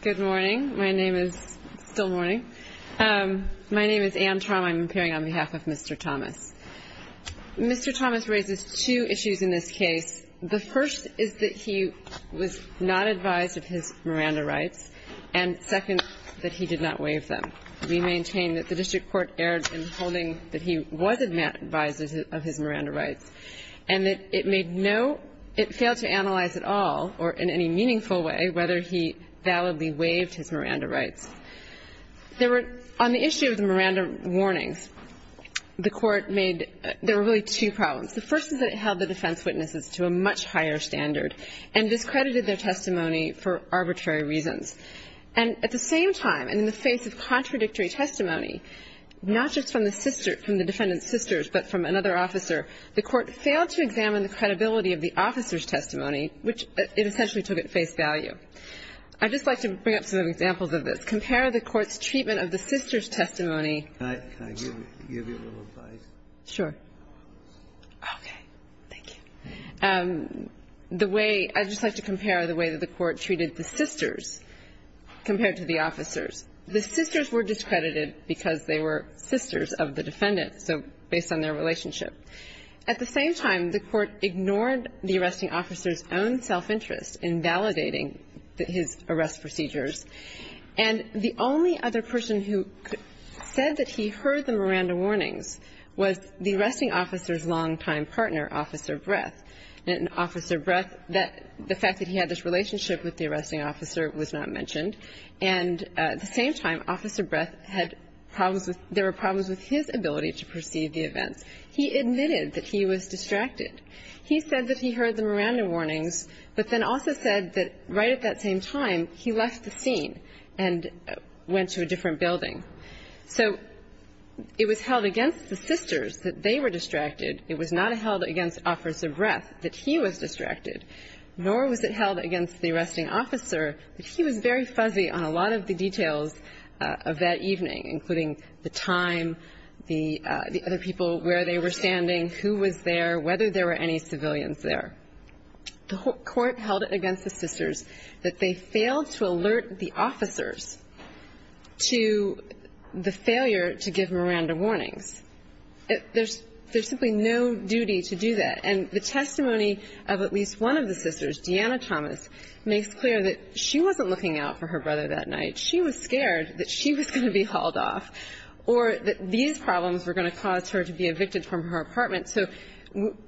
Good morning. My name is Anne Traum. I'm appearing on behalf of Mr. Thomas. Mr. Thomas raises two issues in this case. The first is that he was not advised of his Miranda rights, and second, that he did not waive them. We maintain that the district court erred in holding that he was advised of his Miranda rights and that it made no – it failed to analyze at all, or in any meaningful way, whether he validly waived his Miranda rights. There were – on the issue of the Miranda warnings, the Court made – there were really two problems. The first is that it held the defense witnesses to a much higher standard and discredited their testimony for arbitrary reasons. And at the same time, and in the face of contradictory testimony, not just from the sister – from the defendant's sisters, but from another officer, the Court failed to examine the credibility of the officer's testimony, which it essentially took at face value. I'd just like to bring up some examples of this. Compare the Court's treatment of the sisters' testimony. Can I give you a little advice? Sure. Okay. Thank you. The way – I'd just like to compare the way that the Court treated the sisters compared to the officers. The sisters were discredited because they were sisters of the defendant, so based on their relationship. At the same time, the Court ignored the arresting officer's own self-interest in validating his arrest procedures. And the only other person who said that he heard the Miranda warnings was the arresting officer's longtime partner, Officer Breath. And Officer Breath, the fact that he had this relationship with the arresting officer was not mentioned. And at the same time, Officer Breath had problems with – there were problems with his ability to perceive the events. He admitted that he was distracted. He said that he heard the Miranda warnings, but then also said that right at that same time, he left the scene and went to a different building. So it was held against the sisters that they were distracted. It was not held against Officer Breath that he was distracted, nor was it held against the arresting officer that he was very fuzzy on a lot of the details of that evening, including the time, the other people, where they were standing, who was there, whether there were any civilians there. The Court held it against the sisters that they failed to alert the officers to the failure to give Miranda warnings. There's simply no duty to do that. And the testimony of at least one of the sisters, Deanna Thomas, makes clear that she wasn't looking out for her brother that night. She was scared that she was going to be hauled off or that these problems were going to cause her to be evicted from her apartment. So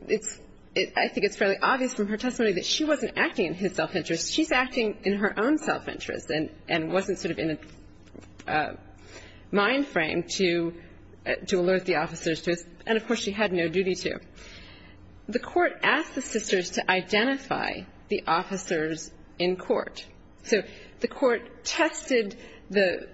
it's – I think it's fairly obvious from her testimony that she wasn't acting in his self-interest. She's acting in her own self-interest and wasn't sort of in a mind frame to alert the officers to his – and, of course, she had no duty to. The Court asked the sisters to identify the officers in court. So the Court tested the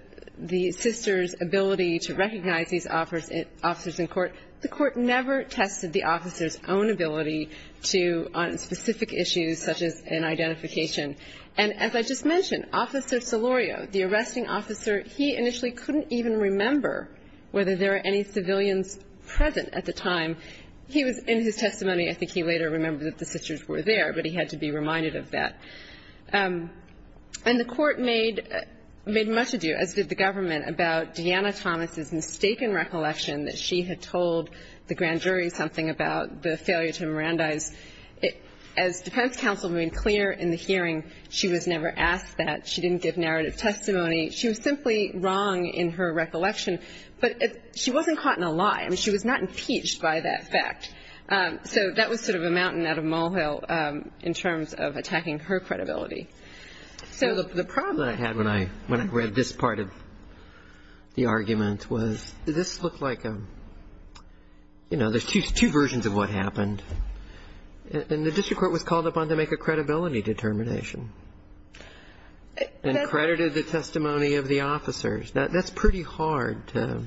sisters' ability to recognize these officers in court. The Court never tested the officers' own ability to – on specific issues such as an identification. And as I just mentioned, Officer Solorio, the arresting officer, he initially couldn't even remember whether there were any civilians present at the time. He was in his testimony. I think he later remembered that the sisters were there, but he had to be reminded of that. And the Court made – made much ado, as did the government, about Deanna Thomas's mistaken recollection that she had told the grand jury something about the failure to Mirandize. As defense counsel made clear in the hearing, she was never asked that. She didn't give narrative testimony. She was simply wrong in her recollection. But she wasn't caught in a lie. I mean, she was not impeached by that fact. So that was sort of a mountain out of molehill in terms of attacking her credibility. So the problem I had when I read this part of the argument was this looked like a – you know, there's two versions of what happened. And the district court was called upon to make a credibility determination and credited the testimony of the officers. That's pretty hard to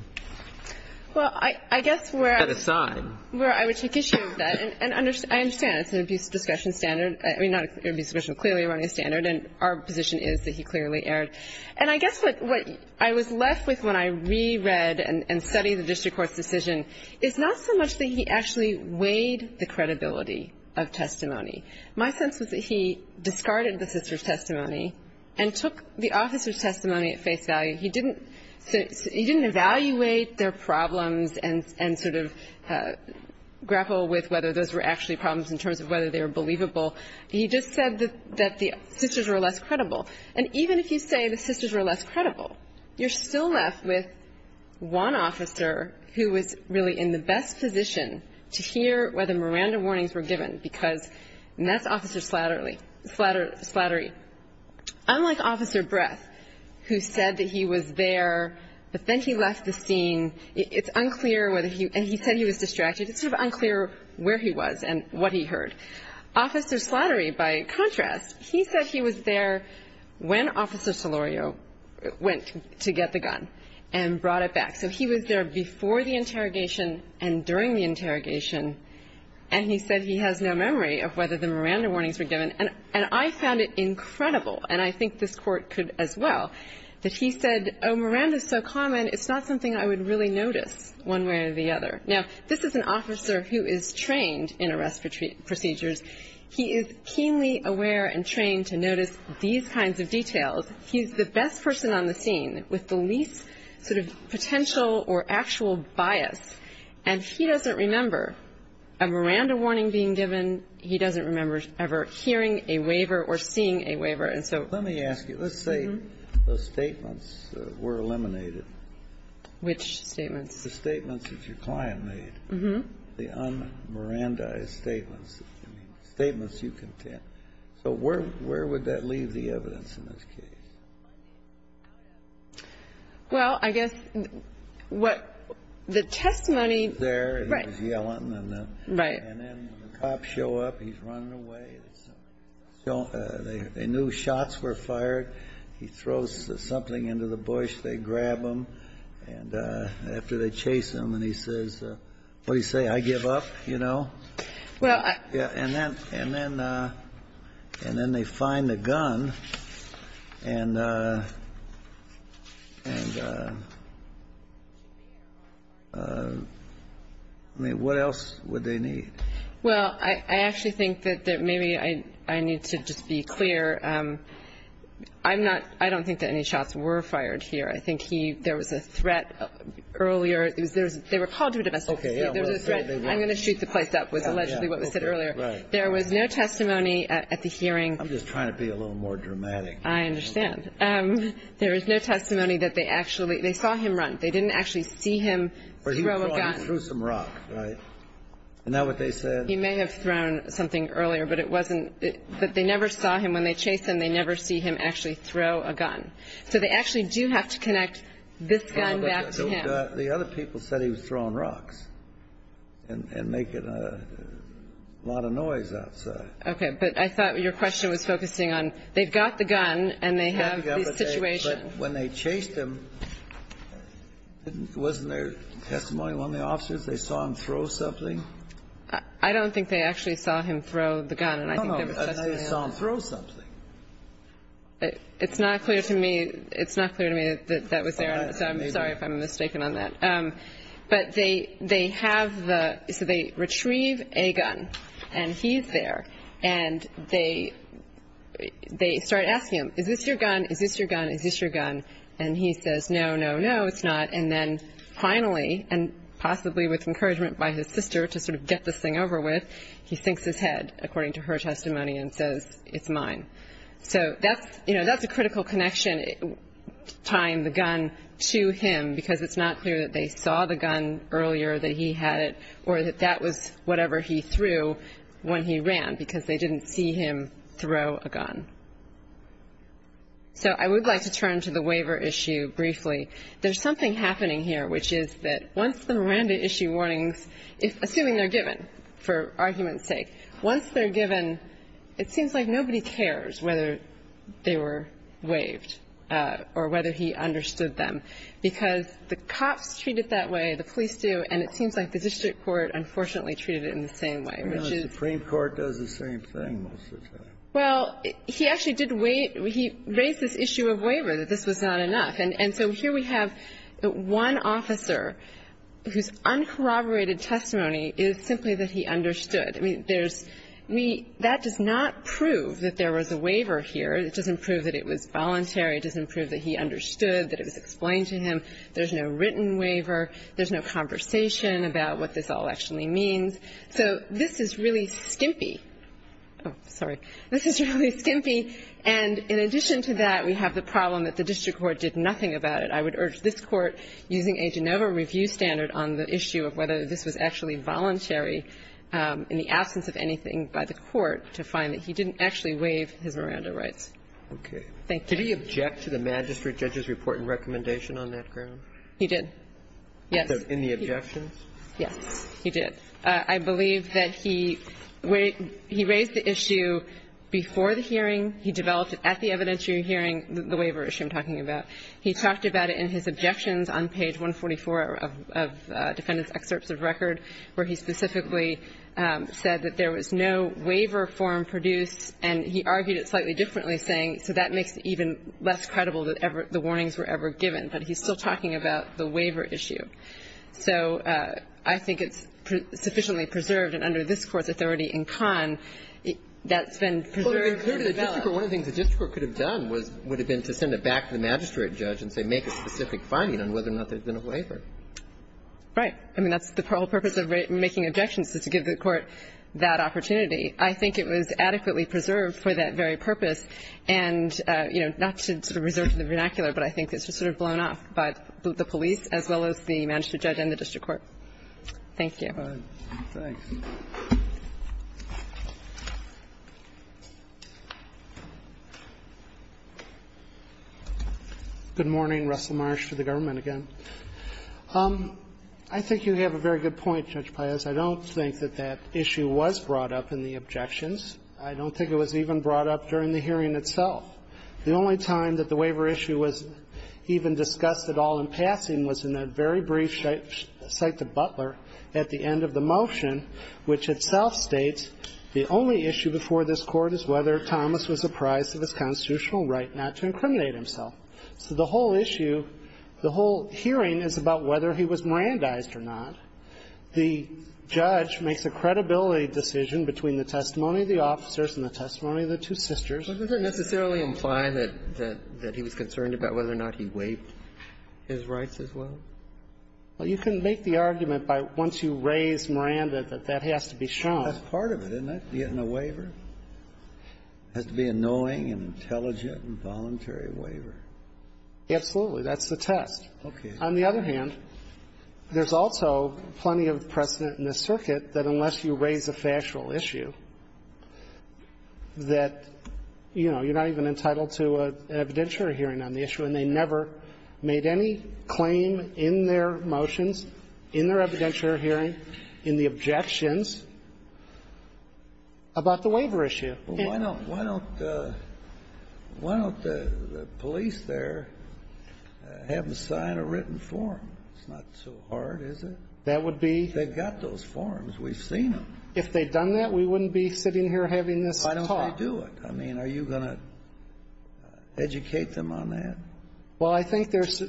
set aside. Where I would take issue with that, and I understand it's an abuse of discretion standard. I mean, not abuse of discretion, but clearly a running standard, and our position is that he clearly erred. And I guess what I was left with when I reread and studied the district court's decision is not so much that he actually weighed the credibility of testimony. My sense was that he discarded the sisters' testimony and took the officers' testimony at face value. He didn't – he didn't evaluate their problems and sort of grapple with whether those were actually problems in terms of whether they were believable. He just said that the sisters were less credible. And even if you say the sisters were less credible, you're still left with one officer who was really in the best position to hear whether Miranda warnings were given, because – and that's Officer Slattery. Unlike Officer Breth, who said that he was there, but then he left the scene. It's unclear whether he – and he said he was distracted. It's sort of unclear where he was and what he heard. Officer Slattery, by contrast, he said he was there when Officer Solorio went to get the gun and brought it back. So he was there before the interrogation and during the interrogation, and he said he has no memory of whether the Miranda warnings were given. And I found it incredible, and I think this Court could as well, that he said, oh, I would really notice one way or the other. Now, this is an officer who is trained in arrest procedures. He is keenly aware and trained to notice these kinds of details. He's the best person on the scene with the least sort of potential or actual bias, and he doesn't remember a Miranda warning being given. He doesn't remember ever hearing a waiver or seeing a waiver. And so – Kennedy. Let me ask you. Let's say those statements were eliminated. Which statements? The statements that your client made. Mm-hmm. The un-Mirandaized statements. I mean, statements you contend. So where would that leave the evidence in this case? Well, I guess what the testimony – He was there, and he was yelling. Right. And then the cops show up. He's running away. They knew shots were fired. He throws something into the bush. They grab him. And after they chase him, and he says – what did he say? I give up? You know? Well, I – Yeah. And then they find the gun, and what else would they need? Well, I actually think that maybe I need to just be clear. I'm not – I don't think that any shots were fired here. I think he – there was a threat earlier. They were called to a divestiture. Okay. There was a threat. I'm going to shoot the place up was allegedly what was said earlier. There was no testimony at the hearing. I'm just trying to be a little more dramatic. I understand. There was no testimony that they actually – they saw him run. They didn't actually see him throw a gun. He threw some rock, right? Isn't that what they said? He may have thrown something earlier, but it wasn't – they never saw him. When they chased him, they never see him actually throw a gun. So they actually do have to connect this gun back to him. The other people said he was throwing rocks and making a lot of noise outside. Okay. But I thought your question was focusing on they've got the gun and they have the situation. But when they chased him, wasn't there testimony from one of the officers? They saw him throw something? I don't think they actually saw him throw the gun. No, no. They saw him throw something. It's not clear to me that that was there. So I'm sorry if I'm mistaken on that. But they have the – so they retrieve a gun, and he's there. And they start asking him, is this your gun, is this your gun, is this your gun? And he says, no, no, no, it's not. And then finally, and possibly with encouragement by his sister to sort of get this thing over with, he sinks his head, according to her testimony, and says, it's mine. So that's, you know, that's a critical connection tying the gun to him because it's not clear that they saw the gun earlier, that he had it, or that that was whatever he threw when he ran because they didn't see him throw a gun. So I would like to turn to the waiver issue briefly. There's something happening here, which is that once the Miranda issue warnings, assuming they're given for argument's sake, once they're given, it seems like nobody cares whether they were waived or whether he understood them, because the cops treat it that way, the police do, and it seems like the district court unfortunately treated it in the same way, which is – Breyer, Supreme Court does the same thing most of the time. Well, he actually did waive – he raised this issue of waiver, that this was not enough. And so here we have one officer whose uncorroborated testimony is simply that he understood. I mean, there's – we – that does not prove that there was a waiver here. It doesn't prove that it was voluntary. It doesn't prove that he understood, that it was explained to him. There's no written waiver. There's no conversation about what this all actually means. So this is really skimpy. Oh, sorry. This is really skimpy. And in addition to that, we have the problem that the district court did nothing about it. I would urge this Court, using a Genova review standard on the issue of whether this was actually voluntary in the absence of anything by the Court, to find that he didn't actually waive his Miranda rights. Thank you. Did he object to the magistrate judge's report and recommendation on that ground? He did, yes. In the objections? Yes, he did. I believe that he raised the issue before the hearing. He developed it at the evidentiary hearing, the waiver issue I'm talking about. He talked about it in his objections on page 144 of defendant's excerpts of record, where he specifically said that there was no waiver form produced, and he argued it slightly differently, saying, so that makes it even less credible that the warnings were ever given. But he's still talking about the waiver issue. So I think it's sufficiently preserved, and under this Court's authority in Cannes, that's been preserved and developed. Well, it included the district court. One of the things the district court could have done would have been to send it back to the magistrate judge and say, make a specific finding on whether or not there had been a waiver. Right. I mean, that's the whole purpose of making objections, is to give the Court that opportunity. I think it was adequately preserved for that very purpose, and, you know, not to sort of reserve the vernacular, but I think it's just sort of blown off by the police as well as the magistrate judge and the district court. Thank you. Thanks. Good morning. Russell Marsh for the government again. I think you have a very good point, Judge Payes. I don't think that that issue was brought up in the objections. I don't think it was even brought up during the hearing itself. The only time that the waiver issue was even discussed at all in passing was in a very brief cite to Butler at the end of the motion, which itself states the only issue before this Court is whether Thomas was apprised of his constitutional right not to incriminate himself. So the whole issue, the whole hearing is about whether he was Mirandized or not. The judge makes a credibility decision between the testimony of the officers and the testimony of the two sisters. Well, does it necessarily imply that he was concerned about whether or not he waived his rights as well? Well, you can make the argument by once you raise Miranda that that has to be shown. That's part of it, isn't it, getting a waiver? It has to be a knowing and intelligent and voluntary waiver. Absolutely. That's the test. Okay. On the other hand, there's also plenty of precedent in this circuit that unless you raise a factual issue that, you know, you're not even entitled to an evidentiary hearing on the issue and they never made any claim in their motions, in their evidentiary hearing, in the objections about the waiver issue. Well, why don't the police there have them sign a written form? It's not so hard, is it? That would be? They've got those forms. We've seen them. If they'd done that, we wouldn't be sitting here having this talk. Why don't they do it? I mean, are you going to educate them on that? Well, I think there's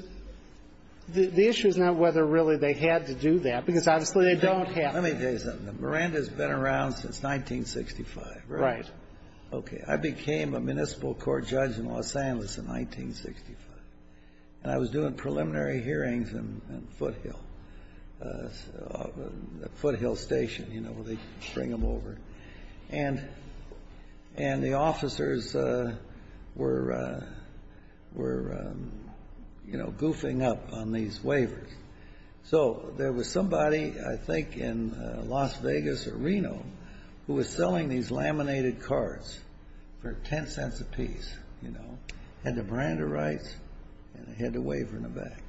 the issue is not whether really they had to do that, because obviously they don't have to. Let me tell you something. Miranda's been around since 1965, right? Right. Okay. I became a municipal court judge in Los Angeles in 1965, and I was doing preliminary hearings in Foothill, Foothill Station, you know, where they bring them over. And the officers were, you know, goofing up on these waivers. So there was somebody, I think in Las Vegas or Reno, who was selling these laminated cards for $0.10 apiece, you know, had the Miranda rights and a waiver in the back.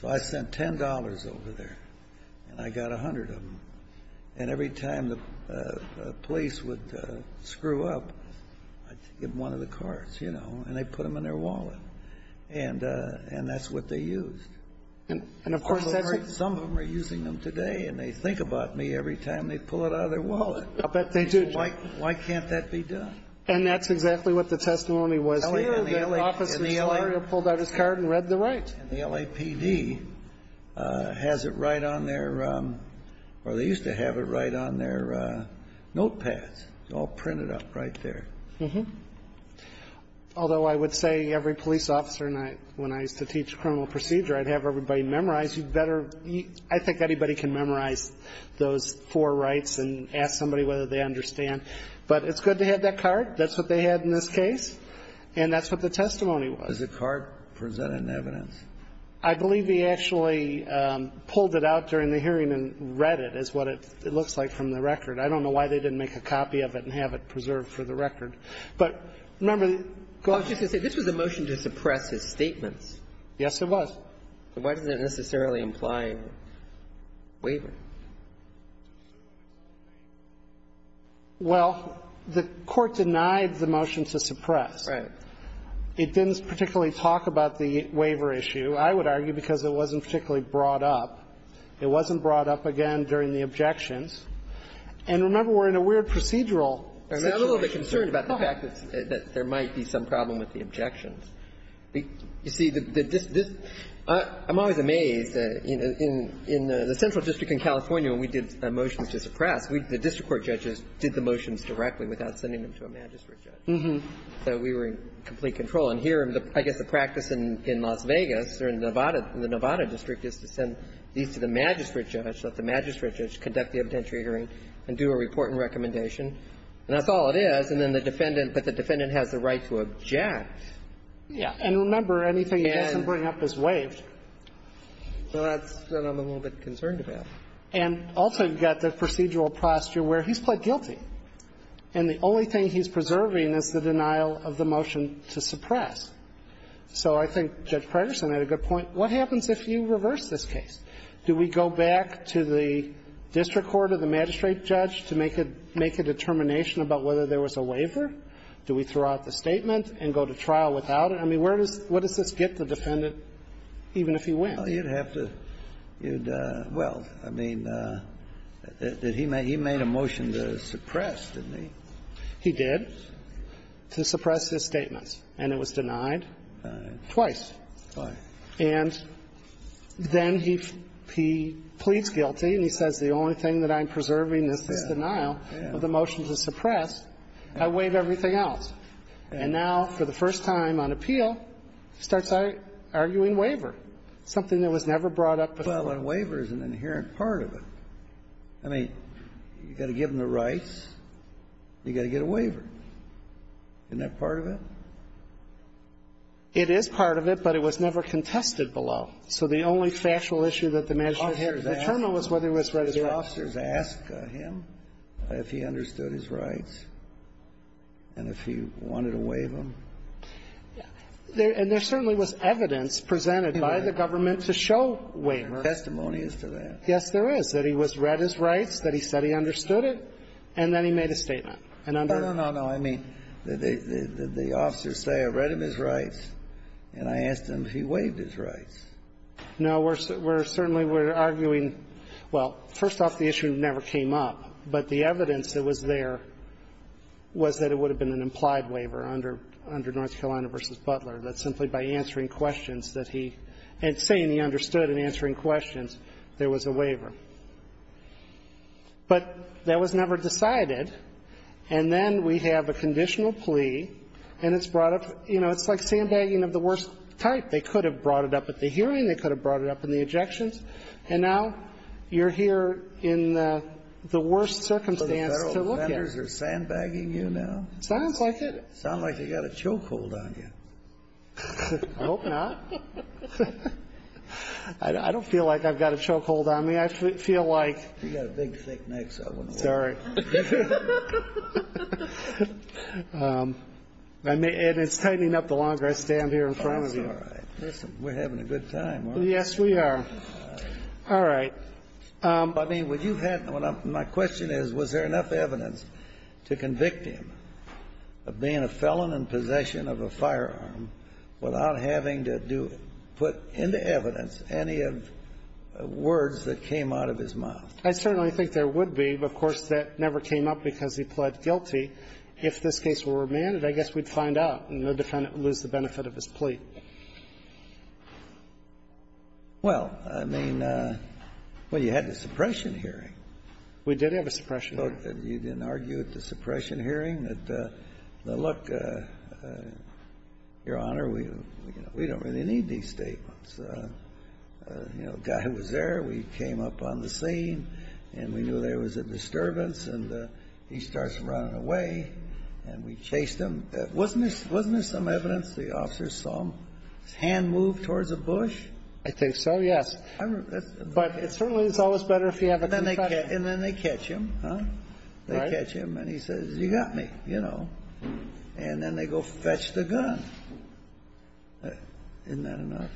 So I sent $10 over there, and I got 100 of them. And every time the police would screw up, I'd give them one of the cards, you know, and they'd put them in their wallet. And that's what they used. And, of course, that's what Some of them are using them today, and they think about me every time they pull it out of their wallet. I'll bet they do, Judge. Why can't that be done? And that's exactly what the testimony was here. The officer's lawyer pulled out his card and read the rights. And the LAPD has it right on their or they used to have it right on their notepads, all printed up right there. Although I would say every police officer, when I used to teach criminal procedure, I'd have everybody memorize. I think anybody can memorize those four rights and ask somebody whether they understand them or not. But it's good to have that card. That's what they had in this case. And that's what the testimony was. Does the card present any evidence? I believe they actually pulled it out during the hearing and read it is what it looks like from the record. I don't know why they didn't make a copy of it and have it preserved for the record. But remember the I was just going to say, this was a motion to suppress his statements. Yes, it was. Why does it necessarily imply waiver? Well, the Court denied the motion to suppress. Right. It didn't particularly talk about the waiver issue, I would argue, because it wasn't particularly brought up. It wasn't brought up again during the objections. And remember, we're in a weird procedural situation. I'm a little bit concerned about the fact that there might be some problem with the objections. You see, I'm always amazed. In the central district in California, when we did a motion to suppress, the district court judges did the motions directly without sending them to a magistrate judge. So we were in complete control. And here, I guess the practice in Las Vegas or in Nevada, the Nevada district, is to send these to the magistrate judge, let the magistrate judge conduct the evidentiary hearing and do a report and recommendation. And that's all it is. And then the defendant, but the defendant has the right to object. Yeah. And remember, anything he doesn't bring up is waived. Well, that's what I'm a little bit concerned about. And also, you've got the procedural posture where he's pled guilty. And the only thing he's preserving is the denial of the motion to suppress. So I think Judge Predersen had a good point. What happens if you reverse this case? Do we go back to the district court or the magistrate judge to make a determination about whether there was a waiver? Do we throw out the statement and go to trial without it? I mean, where does this get the defendant, even if he wins? Well, you'd have to do the – well, I mean, he made a motion to suppress, didn't he? He did, to suppress his statements. And it was denied twice. Twice. And then he pleads guilty, and he says, the only thing that I'm preserving is this denial of the motion to suppress. I waive everything else. And now, for the first time on appeal, he starts arguing waiver, something that was never brought up before. Well, and waiver is an inherent part of it. I mean, you've got to give them the rights. You've got to get a waiver. Isn't that part of it? It is part of it, but it was never contested below. right or wrong. Did the officers ask him if he understood his rights and if he wanted to waive them? And there certainly was evidence presented by the government to show waiver. There are testimonies to that. Yes, there is, that he was read his rights, that he said he understood it, and then he made a statement. No, no, no, no. I mean, did the officers say, I read him his rights, and I asked him if he waived his rights? No. We're certainly, we're arguing, well, first off, the issue never came up. But the evidence that was there was that it would have been an implied waiver under North Carolina v. Butler, that simply by answering questions that he, and saying he understood and answering questions, there was a waiver. But that was never decided. And then we have a conditional plea, and it's brought up, you know, it's like sandbagging of the worst type. They could have brought it up at the hearing. They could have brought it up in the ejections. And now you're here in the worst circumstance to look at. So the federal offenders are sandbagging you now? Sounds like it. Sounds like they've got a chokehold on you. I hope not. I don't feel like I've got a chokehold on me. I feel like. You've got a big, thick neck, so I wouldn't worry. Sorry. And it's tightening up the longer I stand here in front of you. All right. Listen, we're having a good time, aren't we? Yes, we are. All right. But, I mean, would you have, my question is, was there enough evidence to convict him of being a felon in possession of a firearm without having to do it, put into evidence any of the words that came out of his mouth? I certainly think there would be. Of course, that never came up because he pled guilty. If this case were remanded, I guess we'd find out, and the defendant would lose the benefit of his plea. Well, I mean, well, you had the suppression hearing. We did have a suppression hearing. You didn't argue at the suppression hearing that, look, Your Honor, we don't really need these statements. You know, the guy who was there, we came up on the scene, and we knew there was a disturbance, and he starts running away, and we chased him. Wasn't there some evidence the officers saw his hand move towards a bush? I think so, yes. But it certainly is always better if you have a confession. And then they catch him, huh? Right. They catch him, and he says, you got me, you know. And then they go fetch the gun. Isn't that enough?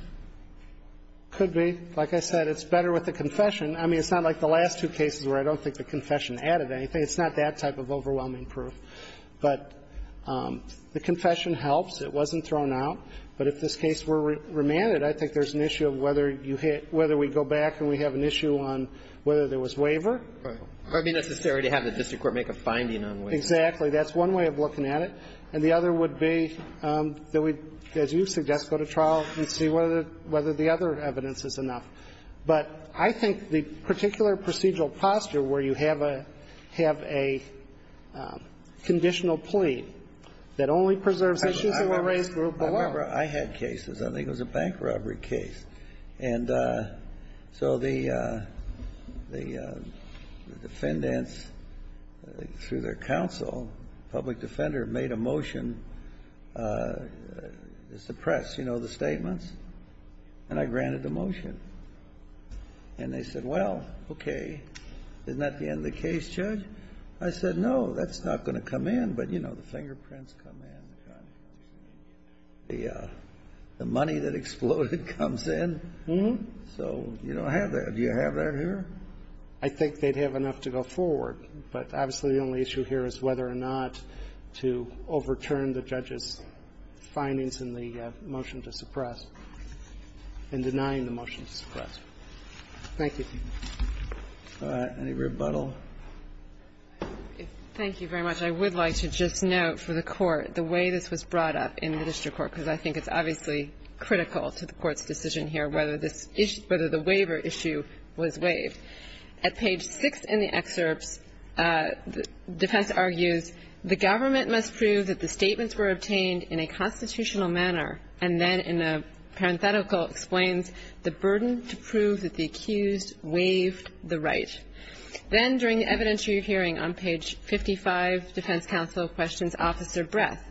Could be. Like I said, it's better with a confession. I mean, it's not like the last two cases where I don't think the confession added anything. It's not that type of overwhelming proof. But the confession helps. It wasn't thrown out. But if this case were remanded, I think there's an issue of whether you hit – whether we go back and we have an issue on whether there was waiver. Right. Or be necessary to have the district court make a finding on waiver. Exactly. That's one way of looking at it. And the other would be that we, as you suggest, go to trial and see whether the other evidence is enough. But I think the particular procedural posture where you have a – have a conditional plea that only preserves issues of a race group below. I remember I had cases. I think it was a bank robbery case. And so the defendants, through their counsel, public defender, made a motion to suppress, you know, the statements. And I granted the motion. And they said, well, okay. Isn't that the end of the case, Judge? I said, no, that's not going to come in. But, you know, the fingerprints come in. The money that exploded comes in. So you don't have that. Do you have that here? I think they'd have enough to go forward. But, obviously, the only issue here is whether or not to overturn the judge's motion to suppress and denying the motion to suppress. Thank you. Any rebuttal? Thank you very much. I would like to just note for the Court the way this was brought up in the district court, because I think it's obviously critical to the Court's decision here whether this issue – whether the waiver issue was waived. At page 6 in the excerpts, defense argues, the government must prove that the statements were obtained in a constitutional manner, and then in a parenthetical explains the burden to prove that the accused waived the right. Then during the evidentiary hearing on page 55, defense counsel questions Officer Breth,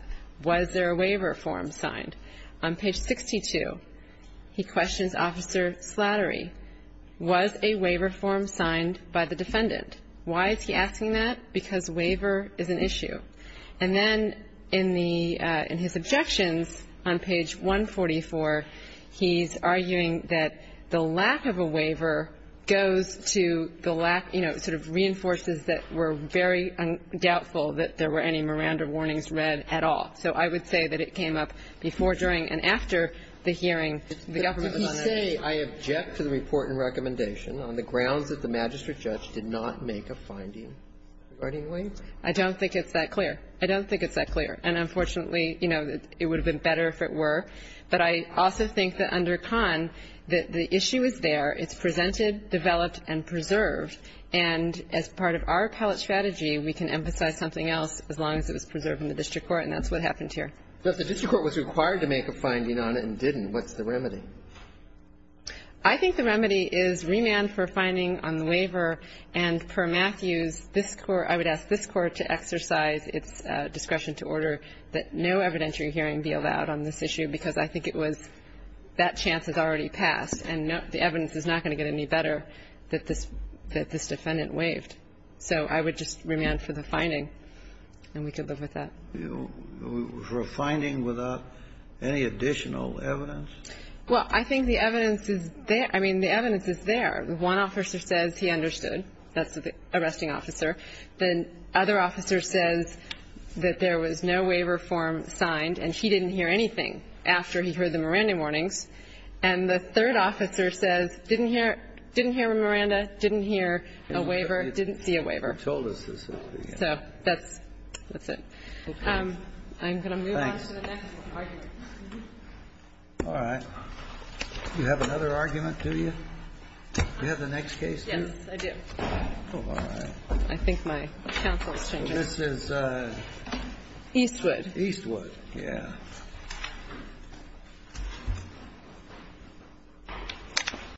was there a waiver form signed? On page 62, he questions Officer Slattery, was a waiver form signed by the defendant? Why is he asking that? Because waiver is an issue. And then in the – in his objections on page 144, he's arguing that the lack of a waiver goes to the lack – you know, sort of reinforces that we're very doubtful that there were any Miranda warnings read at all. So I would say that it came up before, during, and after the hearing, the government was on it. Did he say, I object to the report and recommendation on the grounds that the magistrate judge did not make a finding regarding waivers? I don't think it's that clear. I don't think it's that clear. And unfortunately, you know, it would have been better if it were. But I also think that under Kahn, the issue is there. It's presented, developed, and preserved. And as part of our appellate strategy, we can emphasize something else as long as it was preserved in the district court, and that's what happened here. So if the district court was required to make a finding on it and didn't, what's the remedy? I think the remedy is remand for finding on the waiver. And per Matthews, this Court – I would ask this Court to exercise its discretion to order that no evidentiary hearing be allowed on this issue, because I think it was – that chance has already passed, and the evidence is not going to get any better that this defendant waived. So I would just remand for the finding, and we could live with that. For a finding without any additional evidence? Well, I think the evidence is there. I mean, the evidence is there. One officer says he understood. That's the arresting officer. The other officer says that there was no waiver form signed, and he didn't hear anything after he heard the Miranda warnings. And the third officer says didn't hear a Miranda, didn't hear a waiver, didn't see a waiver. He told us this morning. So that's it. I'm going to move on to the next argument. All right. You have another argument, do you? You have the next case, too? Yes, I do. All right. I think my counsel has changed. This is? Eastwood. Eastwood. Yeah.